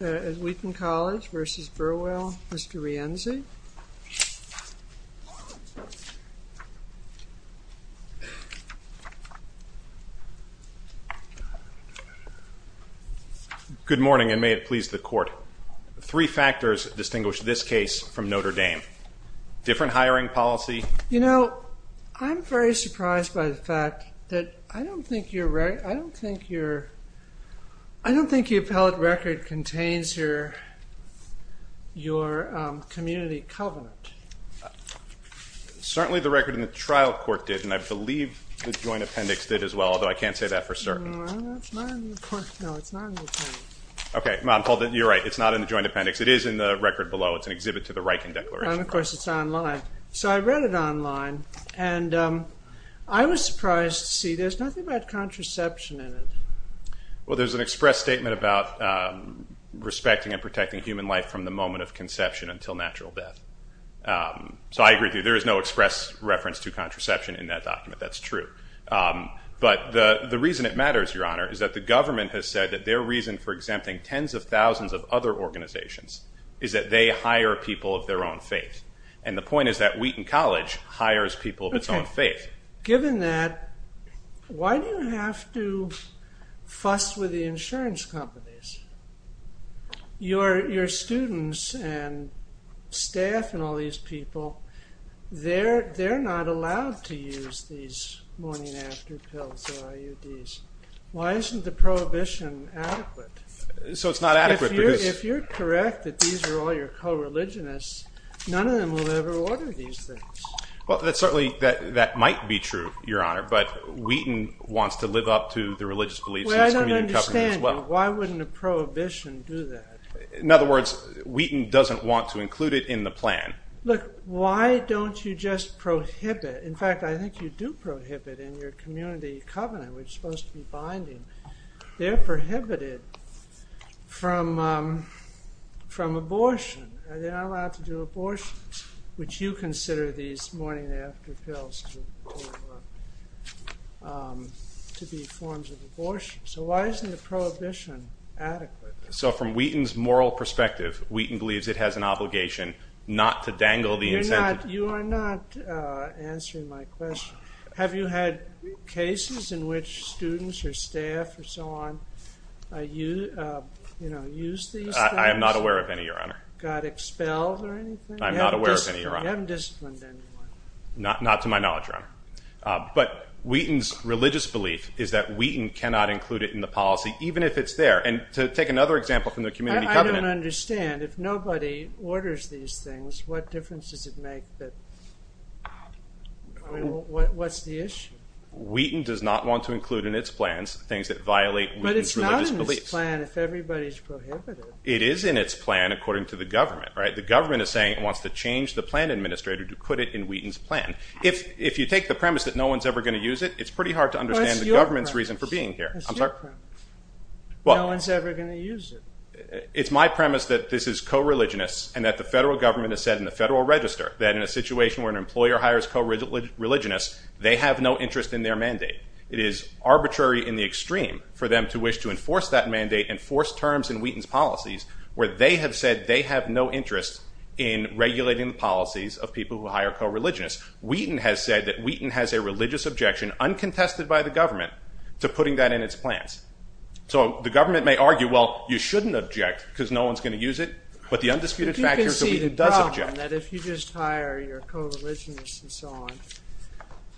Wheaton College v. Burwell, Mr. Rienzi. Good morning and may it please the court. Three factors distinguish this case from Notre Dame. Different hiring policy. You know, I'm very surprised by the fact that I don't think you're, I don't think you're, I don't think your appellate record contains your, your community covenant. Certainly the record in the trial court did and I believe the joint appendix did as well, although I can't say that for certain. Okay, you're right. It's not in the joint appendix. It is in the record below. It's an exhibit to the Riken Declaration. And of course it's online. So I read it online and I was surprised to see there's nothing about contraception in it. Well, there's an express statement about respecting and protecting human life from the moment of conception until natural death. So I agree with you. There is no express reference to contraception in that document. That's true. But the reason it matters, Your Honor, is that the government has said that their reason for exempting tens of thousands of other organizations is that they hire people of their own faith. And the point is that Wheaton College hires people of its own faith. Given that, why do you have to fuss with the insurance companies? Your students and staff and all these people, they're not allowed to use these morning after pills or IUDs. Why isn't the prohibition adequate? So it's not adequate. If you're correct that these are all your co-religionists, none of them will ever order these things. Well, certainly that might be true, Your Honor, but Wheaton wants to live up to the religious beliefs. Well, I don't understand you. Why wouldn't a prohibition do that? In other words, Wheaton doesn't want to include it in the plan. Look, why don't you just prohibit? In fact, I think you do prohibit in your community covenant, which is supposed to be binding. They're prohibited from abortion. They're not allowed to do abortions, which you consider these morning after pills to be forms of abortion. So why isn't the prohibition adequate? So from Wheaton's moral perspective, Wheaton believes it has an obligation not to dangle the incentive. You are not answering my question. Have you had cases in which students or staff or so on used these things? I'm not aware of any, Your Honor. Not to my knowledge, Your Honor. But Wheaton's religious belief is that Wheaton cannot include it in the policy, even if it's there. I don't understand. If nobody orders these things, what difference does it make? What's the issue? Wheaton does not want to include in its plans things that violate Wheaton's religious beliefs. But it's not in this plan if everybody's prohibited. It is in its plan according to the government. The government is saying it wants to change the plan administrator to put it in Wheaton's plan. If you take the premise that no one's ever going to use it, it's pretty hard to understand the government's reason for being here. It's your premise. No one's ever going to use it. It's my premise that this is co-religionists and that the federal government has said in the Federal Register that in a situation where an employer hires co-religionists, they have no interest in their mandate. It is arbitrary in the extreme for them to wish to enforce that mandate and force terms in Wheaton's policies where they have said they have no interest in regulating the policies of people who hire co-religionists. Wheaton has said that Wheaton has a religious objection uncontested by the government to putting that in its plans. So the government may argue, well, you shouldn't object because no one's going to use it, but the undisputed fact is that Wheaton does object. You can see the problem that if you just hire your co-religionists and so on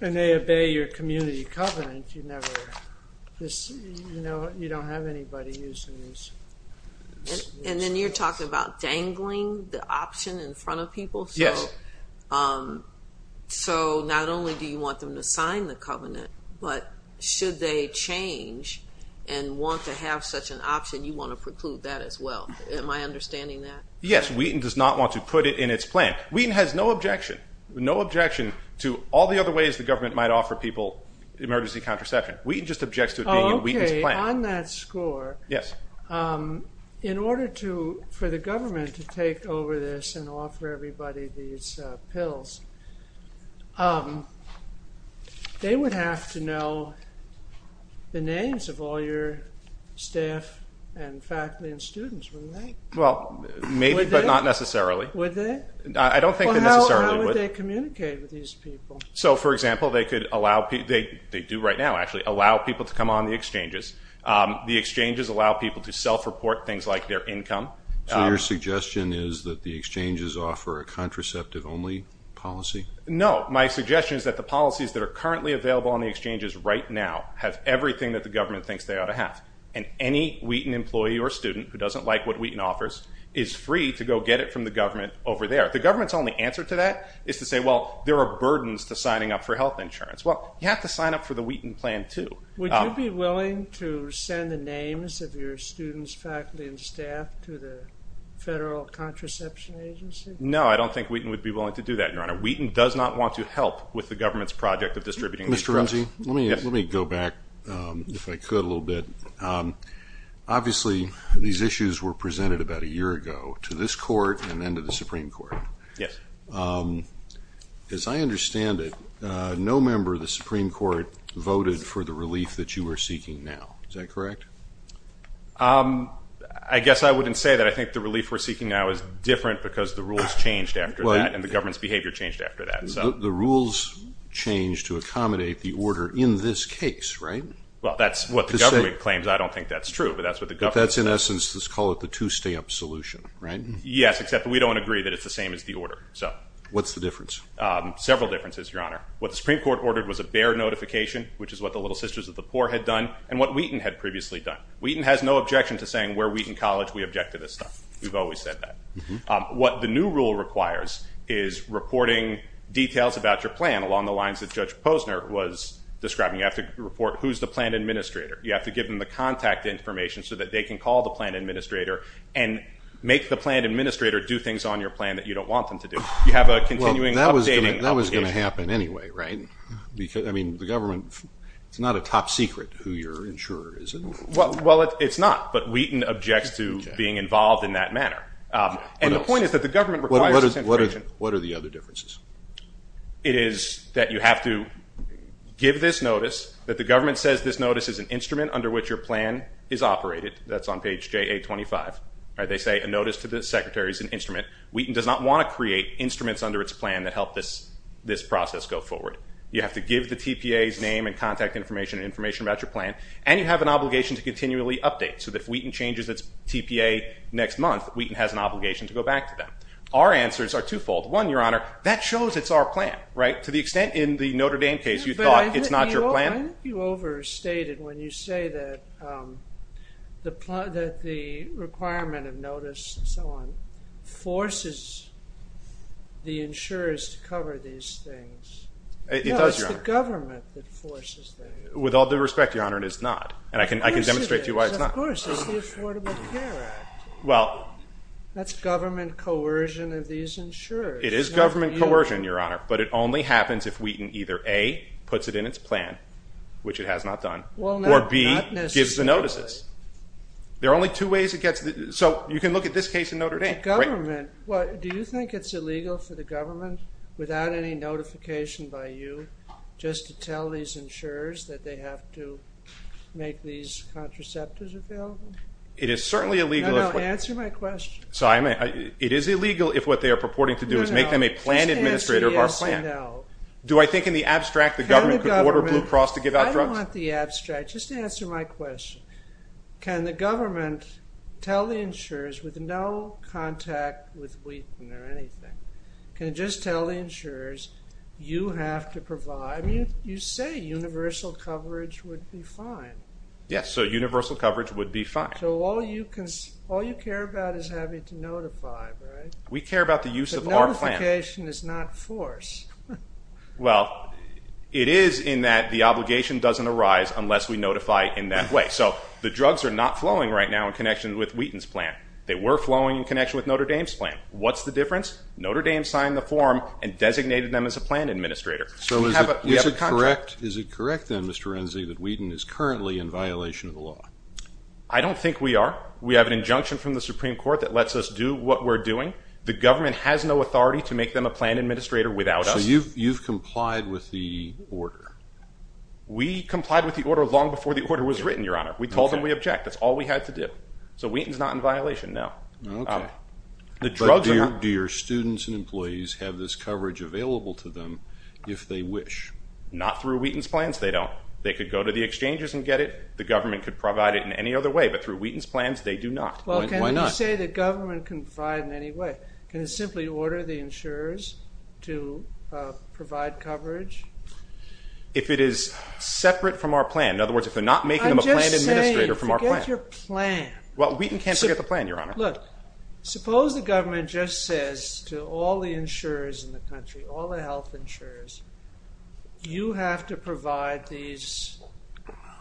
and they obey your community covenant, you don't have anybody using these rules. And then you're talking about dangling the option in front of people. So not only do you want them to sign the covenant, but should they change and want to have such an option, you want to preclude that as well. Am I understanding that? Yes. Wheaton does not want to put it in its plan. Wheaton has no objection to all the other ways the government might offer people emergency contraception. Wheaton just objects to it being in Wheaton's plan. In order for the government to take over this and offer everybody these pills, they would have to know the names of all your staff and faculty and students, wouldn't they? Well, maybe, but not necessarily. How would they communicate with these people? They do right now, actually, allow people to come on the exchanges. The exchanges allow people to self-report things like their income. So your suggestion is that the exchanges offer a contraceptive-only policy? No. My suggestion is that the policies that are currently available on the exchanges right now have everything that the government thinks they ought to have. And any Wheaton employee or student who doesn't like what Wheaton offers is free to go get it from the government over there. The government's only answer to that is to say, well, there are burdens to signing up for health insurance. Well, you have to sign up for the Wheaton plan, too. Would you be willing to send the names of your students, faculty, and staff to the Federal Contraception Agency? No, I don't think Wheaton would be willing to do that, Your Honor. Wheaton does not want to help with the government's project of distributing these drugs. Mr. Renzi, let me go back, if I could, a little bit. Obviously, these issues were presented about a year ago to this Court and then to the Supreme Court. Yes. As I understand it, no member of the Supreme Court voted for the relief that you are seeking now. Is that correct? I guess I wouldn't say that. I think the relief we're seeking now is different because the rules changed after that to accommodate the order in this case, right? Well, that's what the government claims. I don't think that's true, but that's what the government says. But that's, in essence, let's call it the two-stamp solution, right? Yes, except we don't agree that it's the same as the order. What's the difference? Several differences, Your Honor. What the Supreme Court ordered was a Baird notification, which is what the Little Sisters of the Poor had done, and what Wheaton had previously done. Wheaton has no objection to saying where Wheaton College, we object to this stuff. We've always said that. What the new rule requires is reporting details about your plan along the lines that Judge Posner was describing. You have to report who's the plan administrator. You have to give them the contact information so that they can call the plan administrator and make the plan administrator do things on your plan that you don't want them to do. That was going to happen anyway, right? It's not a top secret who your insurer is, is it? Well, it's not, but Wheaton objects to being involved in that manner. And the point is that the government requires this intervention. What are the other differences? It is that you have to give this notice, that the government says this notice is an instrument under which your plan is operated. That's on page JA-25. They say a notice to the secretary is an instrument. Wheaton does not want to create instruments under its plan that help this process go forward. You have to give the TPA's name and contact information and information about your plan, and you have an obligation to continually update so that if Wheaton changes its TPA next month, Wheaton has an obligation to go back to them. Our answers are twofold. One, Your Honor, that shows it's our plan, right? To the extent in the Notre Dame case you thought it's not your plan. But I think you overstated when you say that the requirement of notice and so on requires the insurers to cover these things. It does, Your Honor. No, it's the government that forces them. With all due respect, Your Honor, it is not. And I can demonstrate to you why it's not. Of course, it's the Affordable Care Act. That's government coercion of these insurers. It is government coercion, Your Honor, but it only happens if Wheaton either A, puts it in its plan, which it has not done, or B, gives the notices. So you can look at this case in Notre Dame. Do you think it's illegal for the government, without any notification by you, just to tell these insurers that they have to make these contraceptives available? It is certainly illegal. It is illegal if what they are purporting to do is make them a plan administrator of our plan. Do I think in the abstract the government could order Blue Cross to give out drugs? I don't want the abstract. Just answer my question. Can the government tell the insurers, with no contact with Wheaton or anything, can it just tell the insurers, you have to provide? I mean, you say universal coverage would be fine. Yes, so universal coverage would be fine. So all you care about is having to notify, right? We care about the use of our plan. But notification is not force. Well, it is in that the obligation doesn't arise unless we notify in that way. So the drugs are not flowing right now in connection with Wheaton's plan. They were flowing in connection with Notre Dame's plan. What's the difference? Notre Dame signed the form and designated them as a plan administrator. So is it correct, then, Mr. Renzi, that Wheaton is currently in violation of the law? I don't think we are. We have an injunction from the Supreme Court that lets us do what we're doing. The government has no authority to make them a plan administrator without us. So you've complied with the order? We complied with the order long before the order was written, Your Honor. We told them we object. That's all we had to do. So Wheaton's not in violation now. Do your students and employees have this coverage available to them if they wish? Not through Wheaton's plans. They don't. They could go to the exchanges and get it. The government could provide it in any other way. But through Wheaton's plans, they do not. Well, can you say the government can provide in any way? Can it simply order the insurers to provide coverage? If it is separate from our plan. In other words, if they're not making them a plan administrator from our plan. I'm just saying, forget your plan. Suppose the government just says to all the insurers in the country, all the health insurers, you have to provide these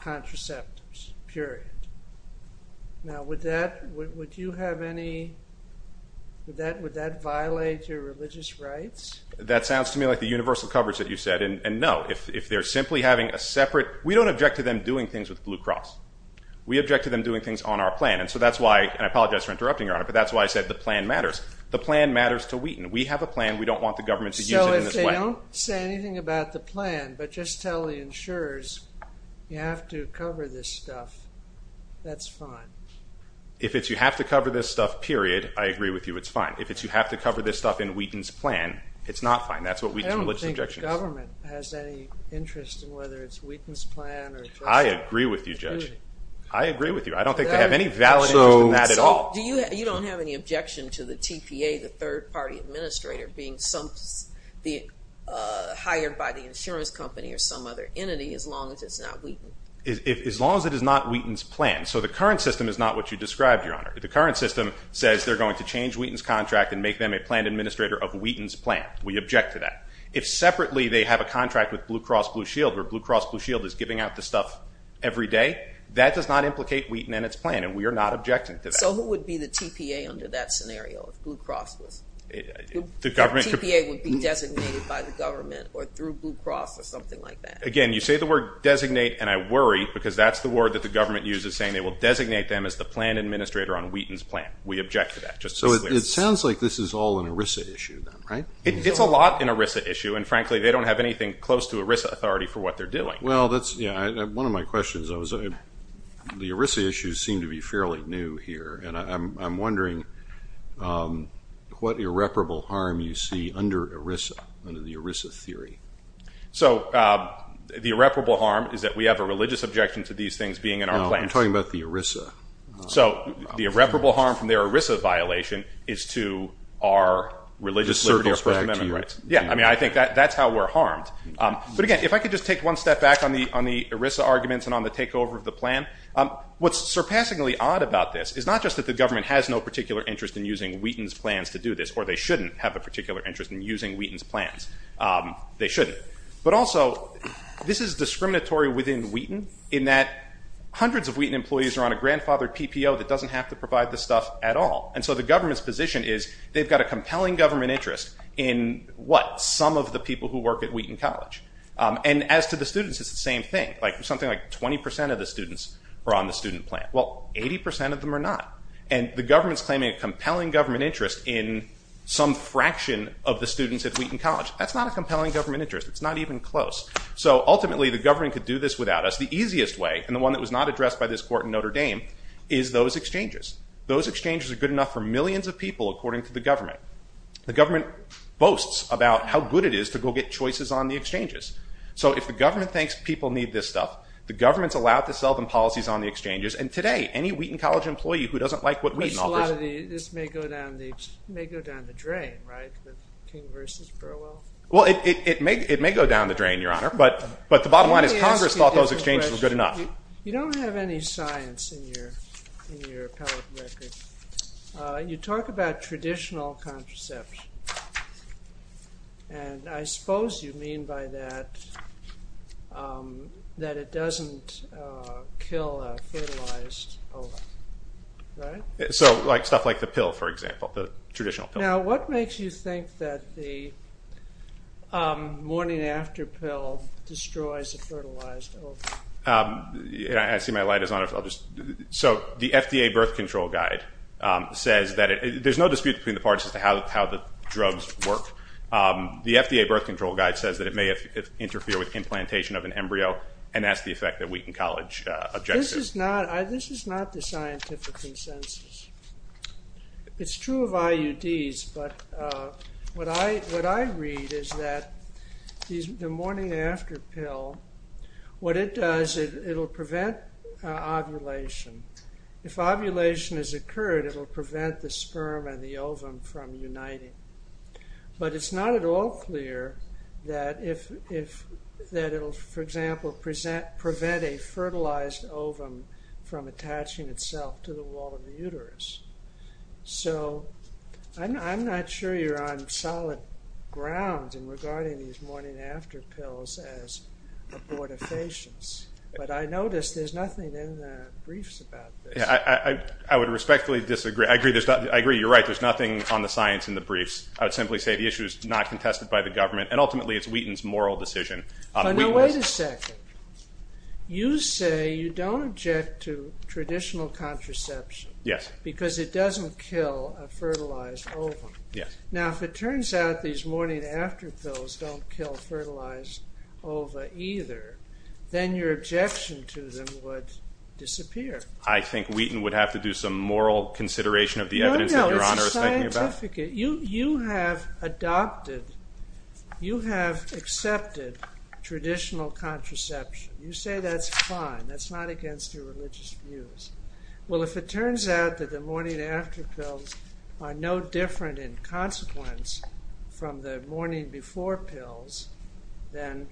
contraceptives, period. Now, would that violate your religious rights? That sounds to me like the universal coverage that you said. And no, if they're simply having a separate, we don't object to them doing things with Blue Cross. We object to them doing things on our plan. And so that's why, and I apologize for interrupting, Your Honor, but that's why I said the plan matters. The plan matters to Wheaton. We have a plan. We don't want the government to use it in this way. If they don't say anything about the plan, but just tell the insurers, you have to cover this stuff. That's fine. If it's you have to cover this stuff, period, I agree with you. It's fine. If it's you have to cover this stuff in Wheaton's plan, it's not fine. That's what Wheaton's religious objection is. I don't think the government has any interest in whether it's Wheaton's plan or... hired by the insurance company or some other entity as long as it's not Wheaton. As long as it is not Wheaton's plan. So the current system is not what you described, Your Honor. The current system says they're going to change Wheaton's contract and make them a plan administrator of Wheaton's plan. We object to that. If separately they have a contract with Blue Cross Blue Shield where Blue Cross Blue Shield is giving out the stuff every day, that does not implicate Wheaton and its plan, and we are not objecting to that. So who would be the TPA under that scenario if Blue Cross was? The TPA would be designated by the government or through Blue Cross or something like that. Again, you say the word designate and I worry because that's the word that the government uses saying they will designate them as the plan administrator on Wheaton's plan. We object to that. It sounds like this is all an ERISA issue. It's a lot an ERISA issue and frankly they don't have anything close to ERISA authority for what they're doing. One of my questions, the ERISA issues seem to be fairly new here. I'm wondering what irreparable harm you see under ERISA, under the ERISA theory. The irreparable harm is that we have a religious objection to these things being in our plans. I'm talking about the ERISA. So the irreparable harm from their ERISA violation is to our religious liberty or First Amendment rights. I think that's how we're harmed. But again, if I could just take one step back on the ERISA arguments and on the takeover of the plan, what's surpassingly odd about this is not just that the government has no particular interest in using Wheaton's plans to do this, or they shouldn't have a particular interest in using Wheaton's plans. They shouldn't. But also, this is discriminatory within Wheaton in that hundreds of Wheaton employees are on a grandfathered PPO that doesn't have to provide this stuff at all. And so the government's position is they've got a compelling government interest in what? Some of the people who work at Wheaton College. And as to the students, it's the same thing. Something like 20 percent of the students are on the student plan. Well, 80 percent of them are not. And the government's claiming a compelling government interest in some fraction of the students at Wheaton College. That's not a compelling government interest. It's not even close. So ultimately, the government could do this without us. The easiest way, and the one that was not addressed by this court in Notre Dame, is those exchanges. Those exchanges are good enough for millions of people, according to the government. The government boasts about how good it is to go get choices on the exchanges. So if the government thinks people need this stuff, the government's allowed to sell them policies on the exchanges. And today, any Wheaton College employee who doesn't like what Wheaton offers— This may go down the drain, right, the King versus Burwell? Well, it may go down the drain, Your Honor, but the bottom line is Congress thought those exchanges were good enough. You don't have any science in your appellate record. You talk about traditional contraception, and I suppose you mean by that that it doesn't kill a fertilized ova, right? Stuff like the pill, for example, the traditional pill. Now, what makes you think that the morning-after pill destroys a fertilized ova? I see my light is on. The FDA birth control guide says that—there's no dispute between the parties as to how the drugs work. The FDA birth control guide says that it may interfere with implantation of an embryo, and that's the effect that Wheaton College objected to. This is not the scientific consensus. It's true of IUDs, but what I read is that the morning-after pill, what it does, it'll prevent ovulation. If ovulation has occurred, it'll prevent the sperm and the ovum from uniting. But it's not at all clear that it'll, for example, prevent a fertilized ovum from attaching itself to the wall of the uterus. So, I'm not sure you're on solid ground in regarding these morning-after pills as abortifacients, but I notice there's nothing in the briefs about this. I would respectfully disagree. I agree. You're right. There's nothing on the science in the briefs. I would simply say the issue is not contested by the government, and ultimately it's Wheaton's moral decision. Wait a second. You say you don't object to traditional contraception because it doesn't kill a fertilized ovum. Now, if it turns out these morning-after pills don't kill fertilized ova either, then your objection to them would disappear. I think Wheaton would have to do some moral consideration of the evidence that Your Honor is talking about. No, no. It's scientific. You have adopted, you have accepted traditional contraception. You say that's fine. That's not against your religious views. Well, if it turns out that the morning-after pills are no different in consequence from the morning-before pills, then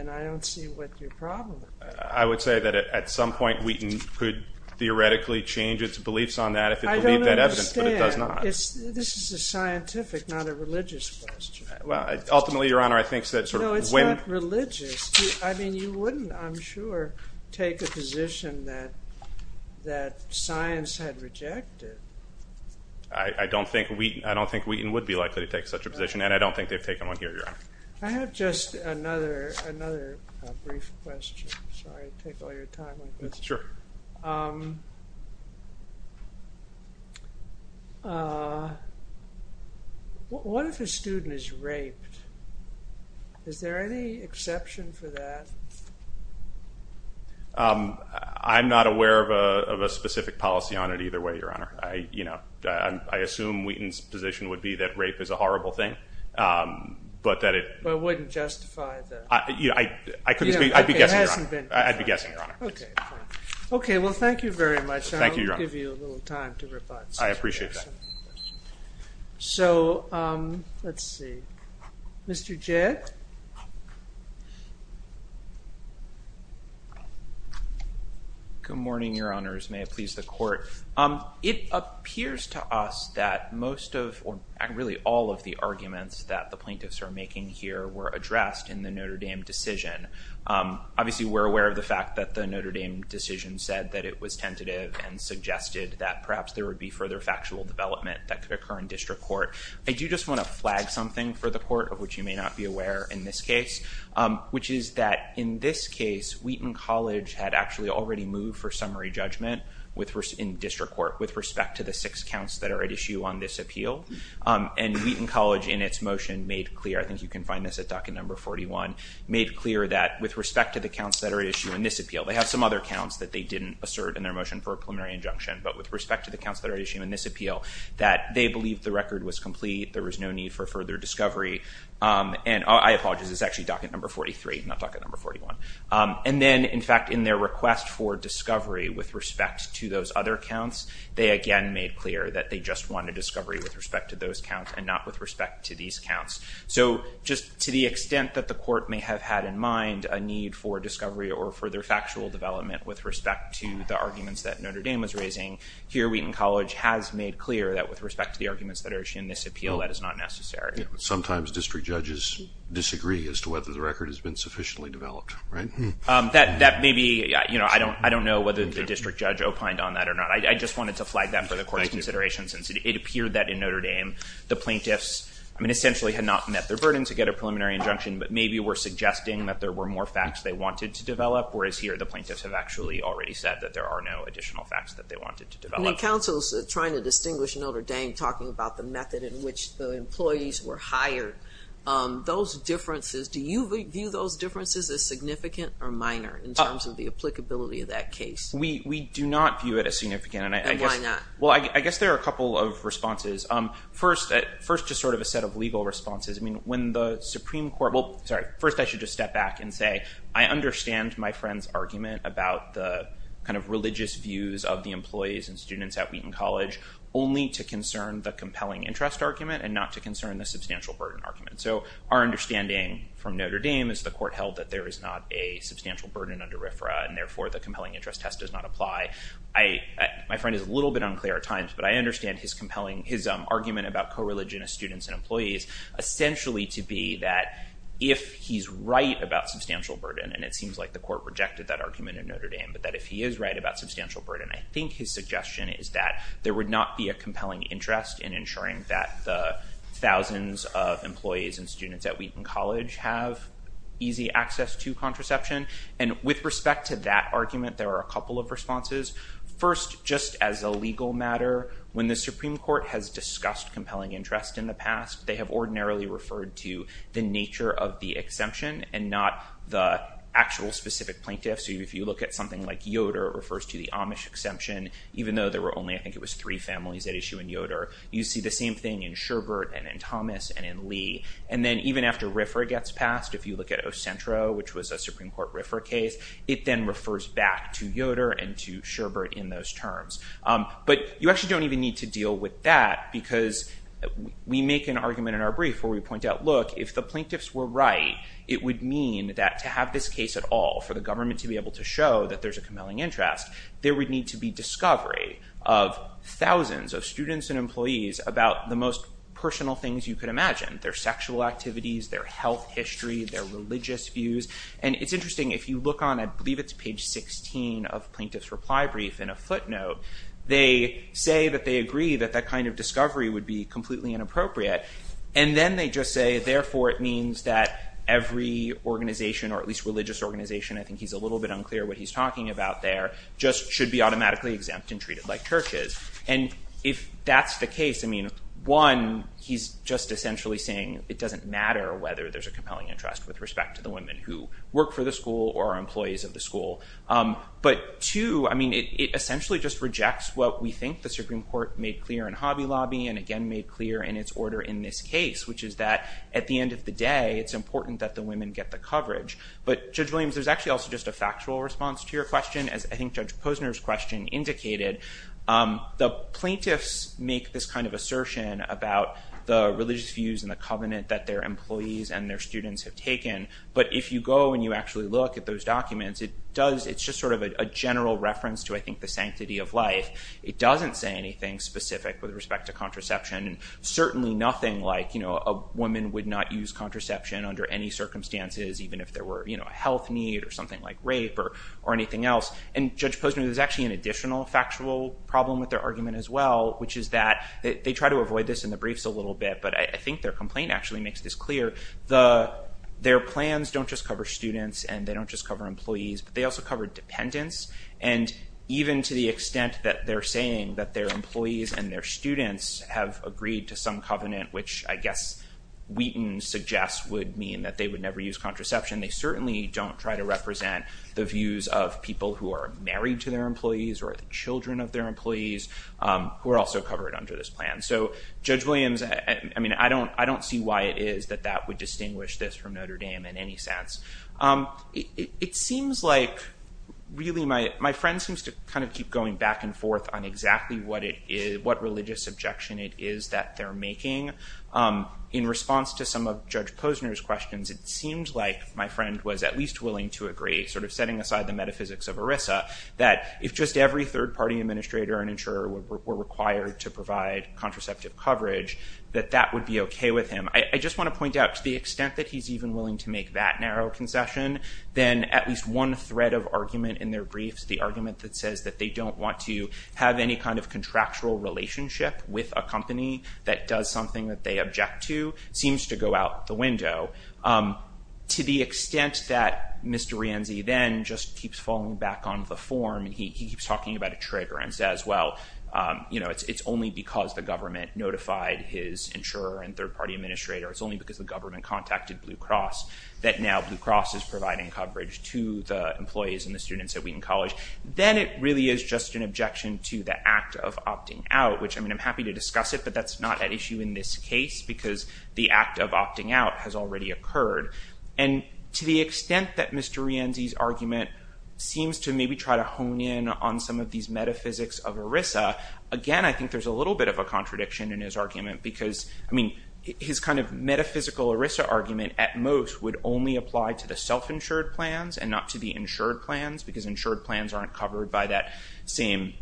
I don't see what your problem is. I would say that at some point Wheaton could theoretically change its beliefs on that if it believed that evidence, but it does not. I don't understand. This is a scientific, not a religious question. No, it's not religious. I mean, you wouldn't, I'm sure, take a position that science had rejected. I don't think Wheaton would be likely to take such a position, and I don't think they've taken one here, Your Honor. I have just another brief question. Sorry to take all your time like this. What if a student is raped? Is there any exception for that? I'm not aware of a specific policy on it either way, Your Honor. I assume Wheaton's position would be that rape is a horrible thing, but that it wouldn't justify the... I'd be guessing, Your Honor. Thank you, Your Honor. Mr. Jett? Good morning, Your Honors. May it please the Court. It appears to us that most of, or really all of the arguments that the plaintiffs are making here were addressed in the Notre Dame decision. Obviously, we're aware of the fact that the Notre Dame decision said that it was tentative and suggested that perhaps there would be further factual development that could occur in district court. I do just want to flag something for the Court, of which you may not be aware in this case, which is that in this case, Wheaton College had actually already moved for summary judgment in district court with respect to the six counts that are at issue on this appeal, and Wheaton College in its motion made clear, I think you can find this at docket number 41, made clear that with respect to the counts that are at issue in this appeal, they have some other counts that they didn't assert in their motion for a preliminary injunction, but with respect to the counts that are at issue in this appeal, that they believe the record was complete, there was no need for further discovery, and I apologize, it's actually docket number 43, not docket number 41. And then, in fact, in their request for discovery with respect to those other counts, they again made clear that they just wanted discovery with respect to those counts and not with respect to these counts. So just to the extent that the Court may have had in mind a need for discovery or further factual development with respect to the arguments that Notre Dame was raising, here Wheaton College has made clear that with respect to the arguments that are at issue in this appeal, that is not necessary. Sometimes district judges disagree as to whether the record has been sufficiently developed, right? That may be, you know, I don't know whether the district judge opined on that or not. I just wanted to flag that for the Court's consideration since it appeared that in Notre Dame, the plaintiffs, I mean, essentially had not met their burden to get a preliminary injunction, but maybe were suggesting that there were more facts they wanted to develop, whereas here, the plaintiffs have actually already said that there are no additional facts that they wanted to develop. When the counsels are trying to distinguish Notre Dame, talking about the method in which the employees were hired, those differences, do you view those differences as significant or minor in terms of the applicability of that case? We do not view it as significant. And why not? Well, I guess there are a couple of responses. First, just sort of a set of legal responses. I mean, when the Supreme Court, well, sorry, first I should just step back and say, I understand my friend's argument about the kind of religious views of the employees and students at Wheaton College, only to concern the compelling interest argument and not to concern the substantial burden argument. So our understanding from Notre Dame is the Court held that there is not a substantial burden under RFRA, and therefore the compelling interest test does not apply. My friend is a little bit unclear at times, but I understand his compelling, his argument about co-religion of students and employees essentially to be that if he's right about substantial burden, and it seems like the Court rejected that argument in Notre Dame, but that if he is right about substantial burden, I think his suggestion is that there would not be a compelling interest in ensuring that the thousands of employees and students at Wheaton College have easy access to contraception. And with respect to that argument, there are a couple of responses. First, just as a legal matter, when the Supreme Court has discussed compelling interest in the past, they have ordinarily referred to the nature of the exemption and not the actual specific plaintiff. So if you look at something like Yoder, it refers to the Amish exemption, even though there were only, I think it was three families at issue in Yoder. You see the same thing in Sherbert and in Thomas and in Lee. And then even after RFRA gets passed, if you look at Ocentro, which was a Supreme Court RFRA case, it then refers back to Yoder and to Sherbert in those terms. But you actually don't even need to deal with that because we make an argument in our brief where we point out, look, if the plaintiffs were right, it would mean that to have this case at all, for the government to be able to show that there's a compelling interest, there would need to be discovery of thousands of students and employees about the most personal things you could imagine. Their sexual activities, their health history, their religious views. And it's interesting, if you look on, I believe it's page 16 of plaintiff's reply brief in a footnote, they say that they agree that that kind of discovery would be completely inappropriate. And then they just say, therefore, it means that every organization, or at least religious organization, I think he's a little bit unclear what he's talking about there, just should be automatically exempt and treated like churches. And if that's the case, I mean, one, he's just essentially saying it doesn't matter whether there's a compelling interest with respect to the women who work for the school or are employees of the school. But two, I mean, it essentially just rejects what we think the Supreme Court made clear in Hobby Lobby and again made clear in its order in this case, which is that at the end of the day, it's important that the women get the coverage. But Judge Williams, there's actually also just a factual response to your question, as I think Judge Posner's question indicated. The plaintiffs make this kind of assertion about the religious views in the covenant that their employees and their students have taken. But if you go and you actually look at those documents, it does, it's just sort of a general reference to, I think, the sanctity of life. It doesn't say anything specific with respect to contraception. Certainly nothing like, you know, a woman would not use contraception under any circumstances, even if there were, you know, a health need or something like rape or anything else. And Judge Posner, there's actually an additional factual problem with their argument as well, which is that they try to avoid this in the briefs a little bit, but I think their complaint actually makes this clear. Their plans don't just cover students and they don't just cover employees, but they also cover dependents. And even to the extent that they're saying that their employees and their students have agreed to some covenant, which I guess Wheaton suggests would mean that they would never use contraception, they certainly don't try to represent the views of people who are married to their employees or the children of their employees who are also covered under this plan. So Judge Williams, I mean, I don't see why it is that that would distinguish this from Notre Dame in any sense. It seems like really my friend seems to kind of keep going back and forth on exactly what it is, what religious objection it is that they're making. In response to some of Judge Posner's questions, it seems like my friend was at least willing to agree, sort of setting aside the metaphysics of ERISA, that if just every third party administrator and insurer were required to provide contraceptive coverage, that that would be OK with him. I just want to point out to the extent that he's even willing to make that narrow concession, then at least one thread of argument in their briefs, the argument that says that they don't want to have any kind of contractual relationship with a company that does something that they object to, seems to go out the window. To the extent that Mr. Rianzi then just keeps falling back on the form, he keeps talking about a trigger and says, well, you know, it's only because the government notified his insurer and third party administrator, it's only because the government contacted Blue Cross, that now Blue Cross is providing coverage to the employees and the students at Wheaton College. Then it really is just an objection to the act of opting out, which I mean, I'm happy to discuss it, but that's not an issue in this case, because the act of opting out has already occurred. And to the extent that Mr. Rianzi's argument seems to maybe try to hone in on some of these metaphysics of ERISA, again, I think there's a little bit of a contradiction in his argument, because I mean, his kind of metaphysical ERISA argument at most would only apply to the self-insured plans and not to the insured plans, because insured plans aren't covered by that same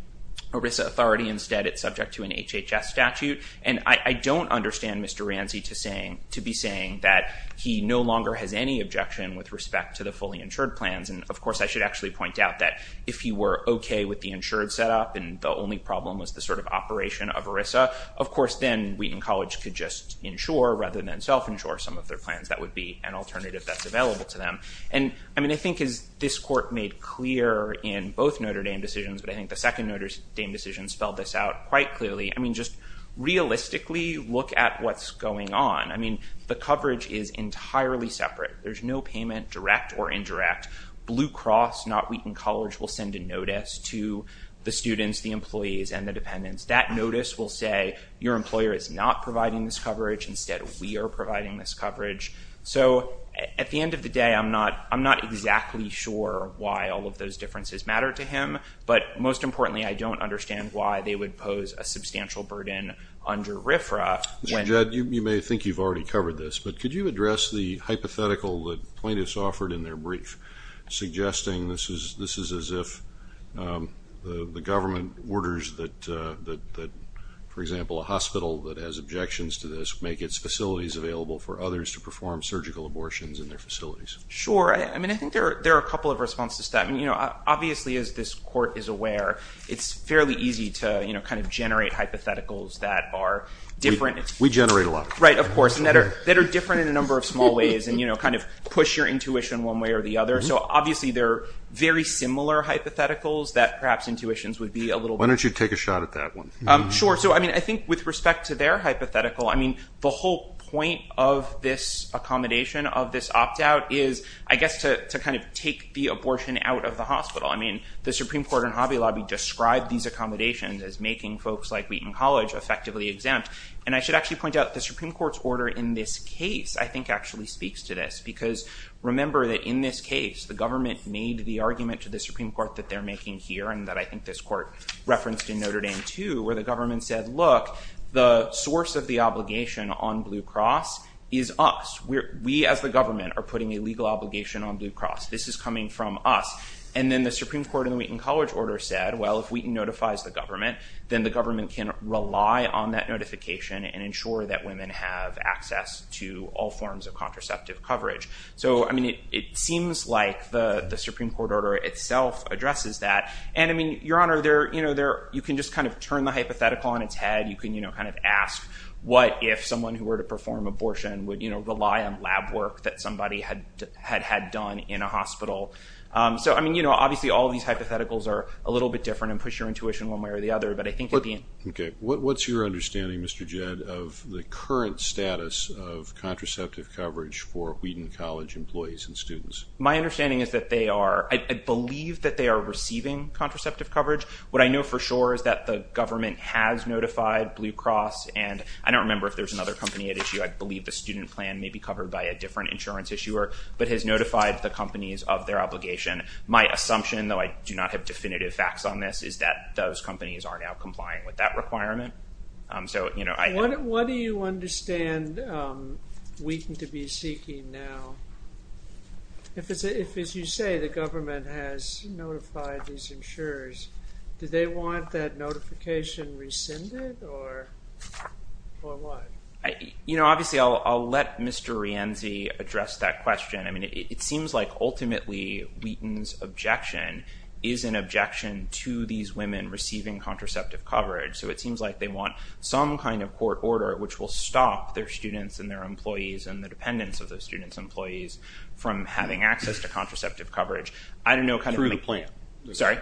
ERISA authority. Instead, it's subject to an HHS statute. And I don't understand Mr. Rianzi to be saying that he no longer has any objection with respect to the fully insured plans. And of course, I should actually point out that if he were OK with the insured setup and the only problem was the sort of operation of ERISA, of course, then Wheaton College could just insure rather than self-insure some of their plans. That would be an alternative that's available to them. And I mean, I think as this court made clear in both Notre Dame decisions, but I think the second Notre Dame decision spelled this out quite clearly, I mean, just realistically look at what's going on. I mean, the coverage is entirely separate. There's no payment, direct or indirect. Blue Cross, not Wheaton College, will send a notice to the students, the employees, and the dependents. That notice will say, your employer is not providing this coverage. Instead, we are providing this coverage. So at the end of the day, I'm not exactly sure why all of those differences matter to him. But most importantly, I don't understand why they would pose a substantial burden under RFRA. Mr. Judd, you may think you've already covered this, but could you address the hypothetical that plaintiffs offered in their brief, suggesting this is as if the government orders that, for example, a hospital that has objections to this make its facilities available for others to perform surgical abortions in their facilities? Sure. I mean, I think there are a couple of responses to that. Obviously, as this court is aware, it's fairly easy to kind of generate hypotheticals that are different. We generate a lot. Right, of course, and that are different in a number of small ways and kind of push your intuition one way or the other. So obviously, there are very similar hypotheticals that perhaps intuitions would be a little bit different. Why don't you take a shot at that one? Sure. So I mean, I think with respect to their hypothetical, I mean, the whole point of this accommodation of this opt-out is, I guess, to kind of take the abortion out of the hospital. I mean, the Supreme Court in Hobby Lobby described these accommodations as making folks like Wheaton College effectively exempt, and I should actually point out the Supreme Court's order in this case, I think actually speaks to this, because remember that in this case, the government made the argument to the Supreme Court that they're making here and that I think this court referenced in Notre Dame, too, where the government said, look, the source of the obligation on Blue Cross is us. We, as the government, are putting a legal obligation on Blue Cross. This is coming from us. And then the Supreme Court in the Wheaton College order said, well, if Wheaton notifies the government, then the government can rely on that notification and ensure that women have access to all forms of contraceptive coverage. So I mean, it seems like the Supreme Court order itself addresses that. And I mean, Your Honor, you can just kind of turn the hypothetical on its head. You can kind of ask what if someone who were to perform abortion would rely on lab work that somebody had done in a hospital. So, I mean, obviously all these hypotheticals are a little bit different and push your intuition one way or the other. Okay. What's your understanding, Mr. Jed, of the current status of contraceptive coverage for Wheaton College employees and students? My understanding is that they are, I believe that they are receiving contraceptive coverage. What I know for sure is that the government has notified Blue Cross. And I don't remember if there's another company at issue. I believe the student plan may be covered by a different insurance issuer, but has notified the companies of their obligation. My assumption, though I do not have definitive facts on this, is that those companies are now complying with that requirement. What do you understand Wheaton to be seeking now? If, as you say, the government has notified these insurers, do they want that notification rescinded or what? You know, obviously I'll let Mr. Rienzi address that question. I mean, it seems like ultimately Wheaton's objection is an objection to these women receiving contraceptive coverage. So it seems like they want some kind of court order which will stop their students and their employees and the dependents of those students' employees from having access to contraceptive coverage. Through the plan. Sorry?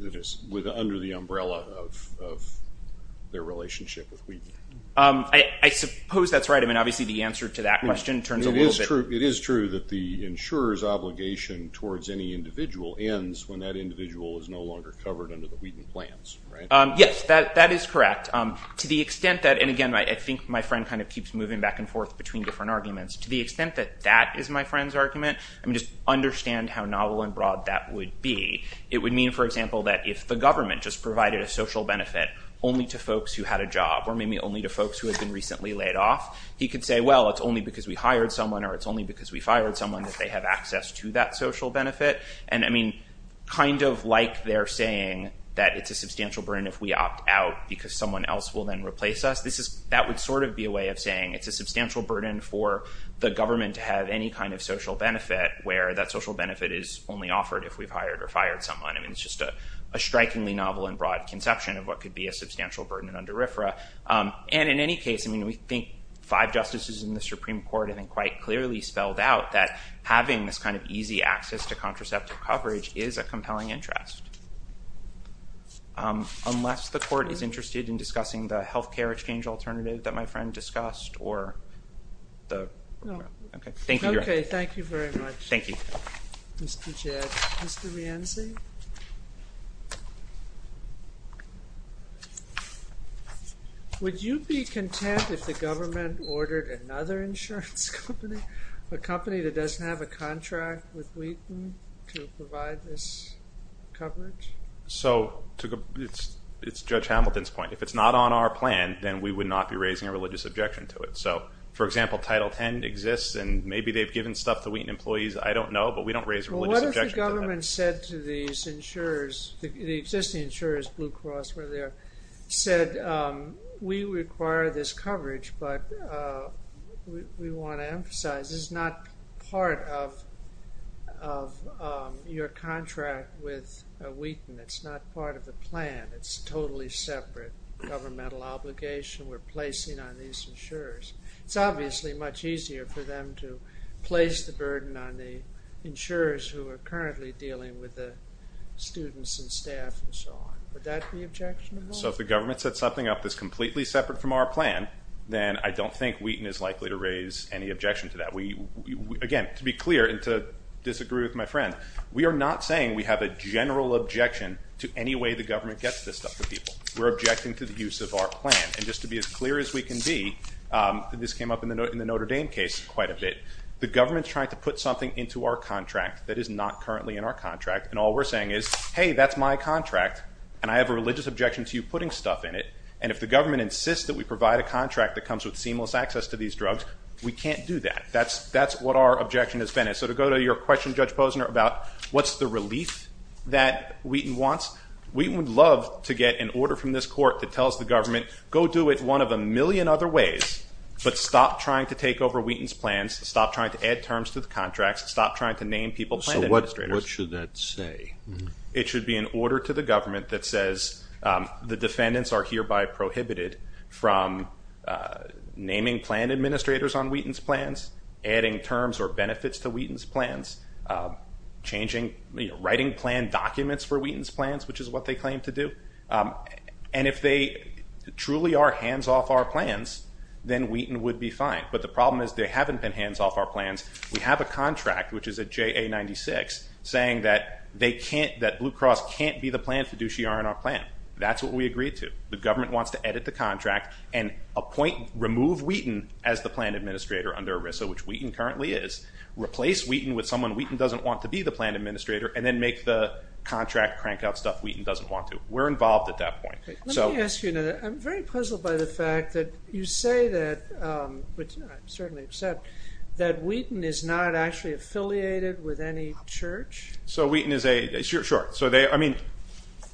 Under the umbrella of their relationship with Wheaton. I suppose that's right. I mean, obviously the answer to that question turns a little bit. It is true that the insurer's obligation towards any individual ends when that individual is no longer covered under the Wheaton plans, right? Yes, that is correct. To the extent that, and, again, I think my friend kind of keeps moving back and forth between different arguments. To the extent that that is my friend's argument, I mean, just understand how novel and broad that would be. It would mean, for example, that if the government just provided a social benefit only to folks who had a job or maybe only to folks who had been recently laid off, he could say, well, it's only because we hired someone or it's only because we fired someone that they have access to that social benefit. And, I mean, kind of like they're saying that it's a substantial burden if we opt out because someone else will then replace us. That would sort of be a way of saying it's a substantial burden for the government to have any kind of social benefit where that social benefit is only offered if we've hired or fired someone. I mean, it's just a strikingly novel and broad conception of what could be a substantial burden under RFRA. And, in any case, I mean, we think five justices in the Supreme Court I think quite clearly spelled out that having this kind of easy access to contraceptive coverage is a compelling interest. Unless the court is interested in discussing the health care exchange alternative that my friend discussed or the... No. Okay. Thank you, Your Honor. Okay. Thank you very much. Thank you. Mr. Jed. Mr. Rienzi? Would you be content if the government ordered another insurance company, a company that doesn't have a contract with Wheaton to provide this coverage? So it's Judge Hamilton's point. If it's not on our plan, then we would not be raising a religious objection to it. So, for example, Title X exists, and maybe they've given stuff to Wheaton employees. I don't know, but we don't raise a religious objection to that. But what if the government said to these insurers, the existing insurers, Blue Cross, whatever they are, said we require this coverage, but we want to emphasize this is not part of your contract with Wheaton. It's not part of the plan. It's totally separate governmental obligation we're placing on these insurers. It's obviously much easier for them to place the burden on the insurers who are currently dealing with the students and staff and so on. Would that be objectionable? So if the government sets something up that's completely separate from our plan, then I don't think Wheaton is likely to raise any objection to that. Again, to be clear and to disagree with my friend, we are not saying we have a general objection to any way the government gets this stuff to people. We're objecting to the use of our plan. And just to be as clear as we can be, this came up in the Notre Dame case quite a bit, the government's trying to put something into our contract that is not currently in our contract, and all we're saying is, hey, that's my contract, and I have a religious objection to you putting stuff in it, and if the government insists that we provide a contract that comes with seamless access to these drugs, we can't do that. That's what our objection has been. So to go to your question, Judge Posner, about what's the relief that Wheaton wants, Wheaton would love to get an order from this court that tells the government, go do it one of a million other ways, but stop trying to take over Wheaton's plans, stop trying to add terms to the contracts, stop trying to name people plan administrators. So what should that say? It should be an order to the government that says the defendants are hereby prohibited from naming plan administrators on Wheaton's plans, adding terms or benefits to Wheaton's plans, writing plan documents for Wheaton's plans, which is what they claim to do. And if they truly are hands-off our plans, then Wheaton would be fine. But the problem is they haven't been hands-off our plans. We have a contract, which is a JA-96, saying that Blue Cross can't be the plan fiduciary on our plan. That's what we agreed to. The government wants to edit the contract and remove Wheaton as the plan administrator under ERISA, which Wheaton currently is, replace Wheaton with someone Wheaton doesn't want to be the plan administrator, and then make the contract crank out stuff Wheaton doesn't want to. We're involved at that point. Let me ask you another. I'm very puzzled by the fact that you say that, which I certainly accept, that Wheaton is not actually affiliated with any church. So Wheaton is a – sure. I mean,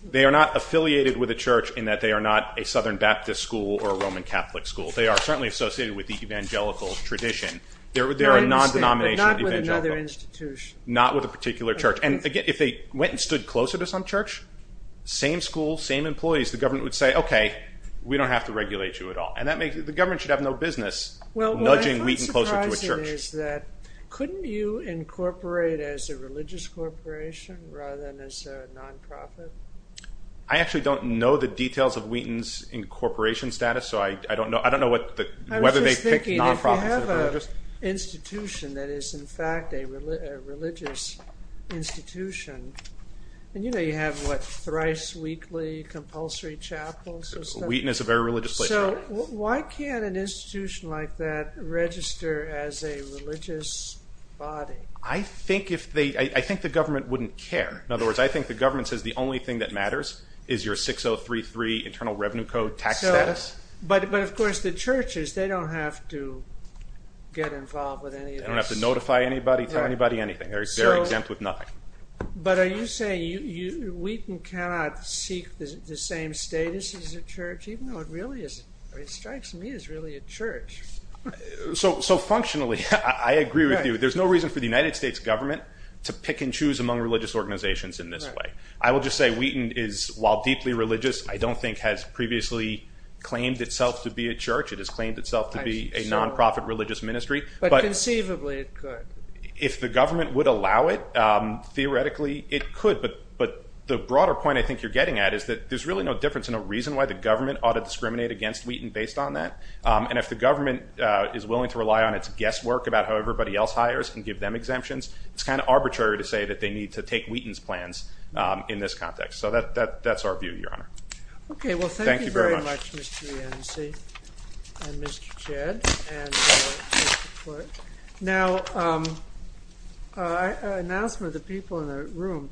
they are not affiliated with a church in that they are not a Southern Baptist school or a Roman Catholic school. They are certainly associated with the evangelical tradition. They're a nondenomination of evangelical. Not with another institution. Not with a particular church. And, again, if they went and stood closer to some church, same school, same employees, the government would say, okay, we don't have to regulate you at all. And the government should have no business nudging Wheaton closer to a church. Well, what I find surprising is that couldn't you incorporate as a religious corporation rather than as a nonprofit? I actually don't know the details of Wheaton's incorporation status, so I don't know whether they picked nonprofits or religious. I was just thinking, if you have an institution that is, in fact, a religious institution, and you know you have, what, thrice weekly compulsory chapels. Wheaton is a very religious place. So why can't an institution like that register as a religious body? I think the government wouldn't care. In other words, I think the government says the only thing that matters is your 6033 Internal Revenue Code tax status. But, of course, the churches, they don't have to get involved with any of this. They don't have to notify anybody, tell anybody anything. They're exempt with nothing. But are you saying Wheaton cannot seek the same status as a church, even though it strikes me as really a church? So functionally, I agree with you. There's no reason for the United States government to pick and choose among religious organizations in this way. I will just say Wheaton is, while deeply religious, I don't think has previously claimed itself to be a church. It has claimed itself to be a nonprofit religious ministry. But conceivably it could. If the government would allow it, theoretically it could. But the broader point I think you're getting at is that there's really no difference in a reason why the government ought to discriminate against Wheaton based on that. And if the government is willing to rely on its guesswork about how everybody else hires and give them exemptions, it's kind of arbitrary to say that they need to take Wheaton's plans in this context. So that's our view, Your Honor. Okay. Well, thank you very much, Mr. Yancy and Mr. Jed, and Mr. Quirk. Now, an announcement of the people in the room.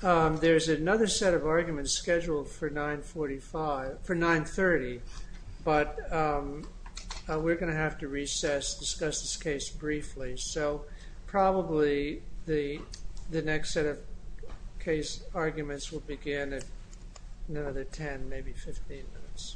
There's another set of arguments scheduled for 930, but we're going to have to recess, discuss this case briefly. So probably the next set of case arguments will begin in another 10, maybe 15 minutes. Thank you.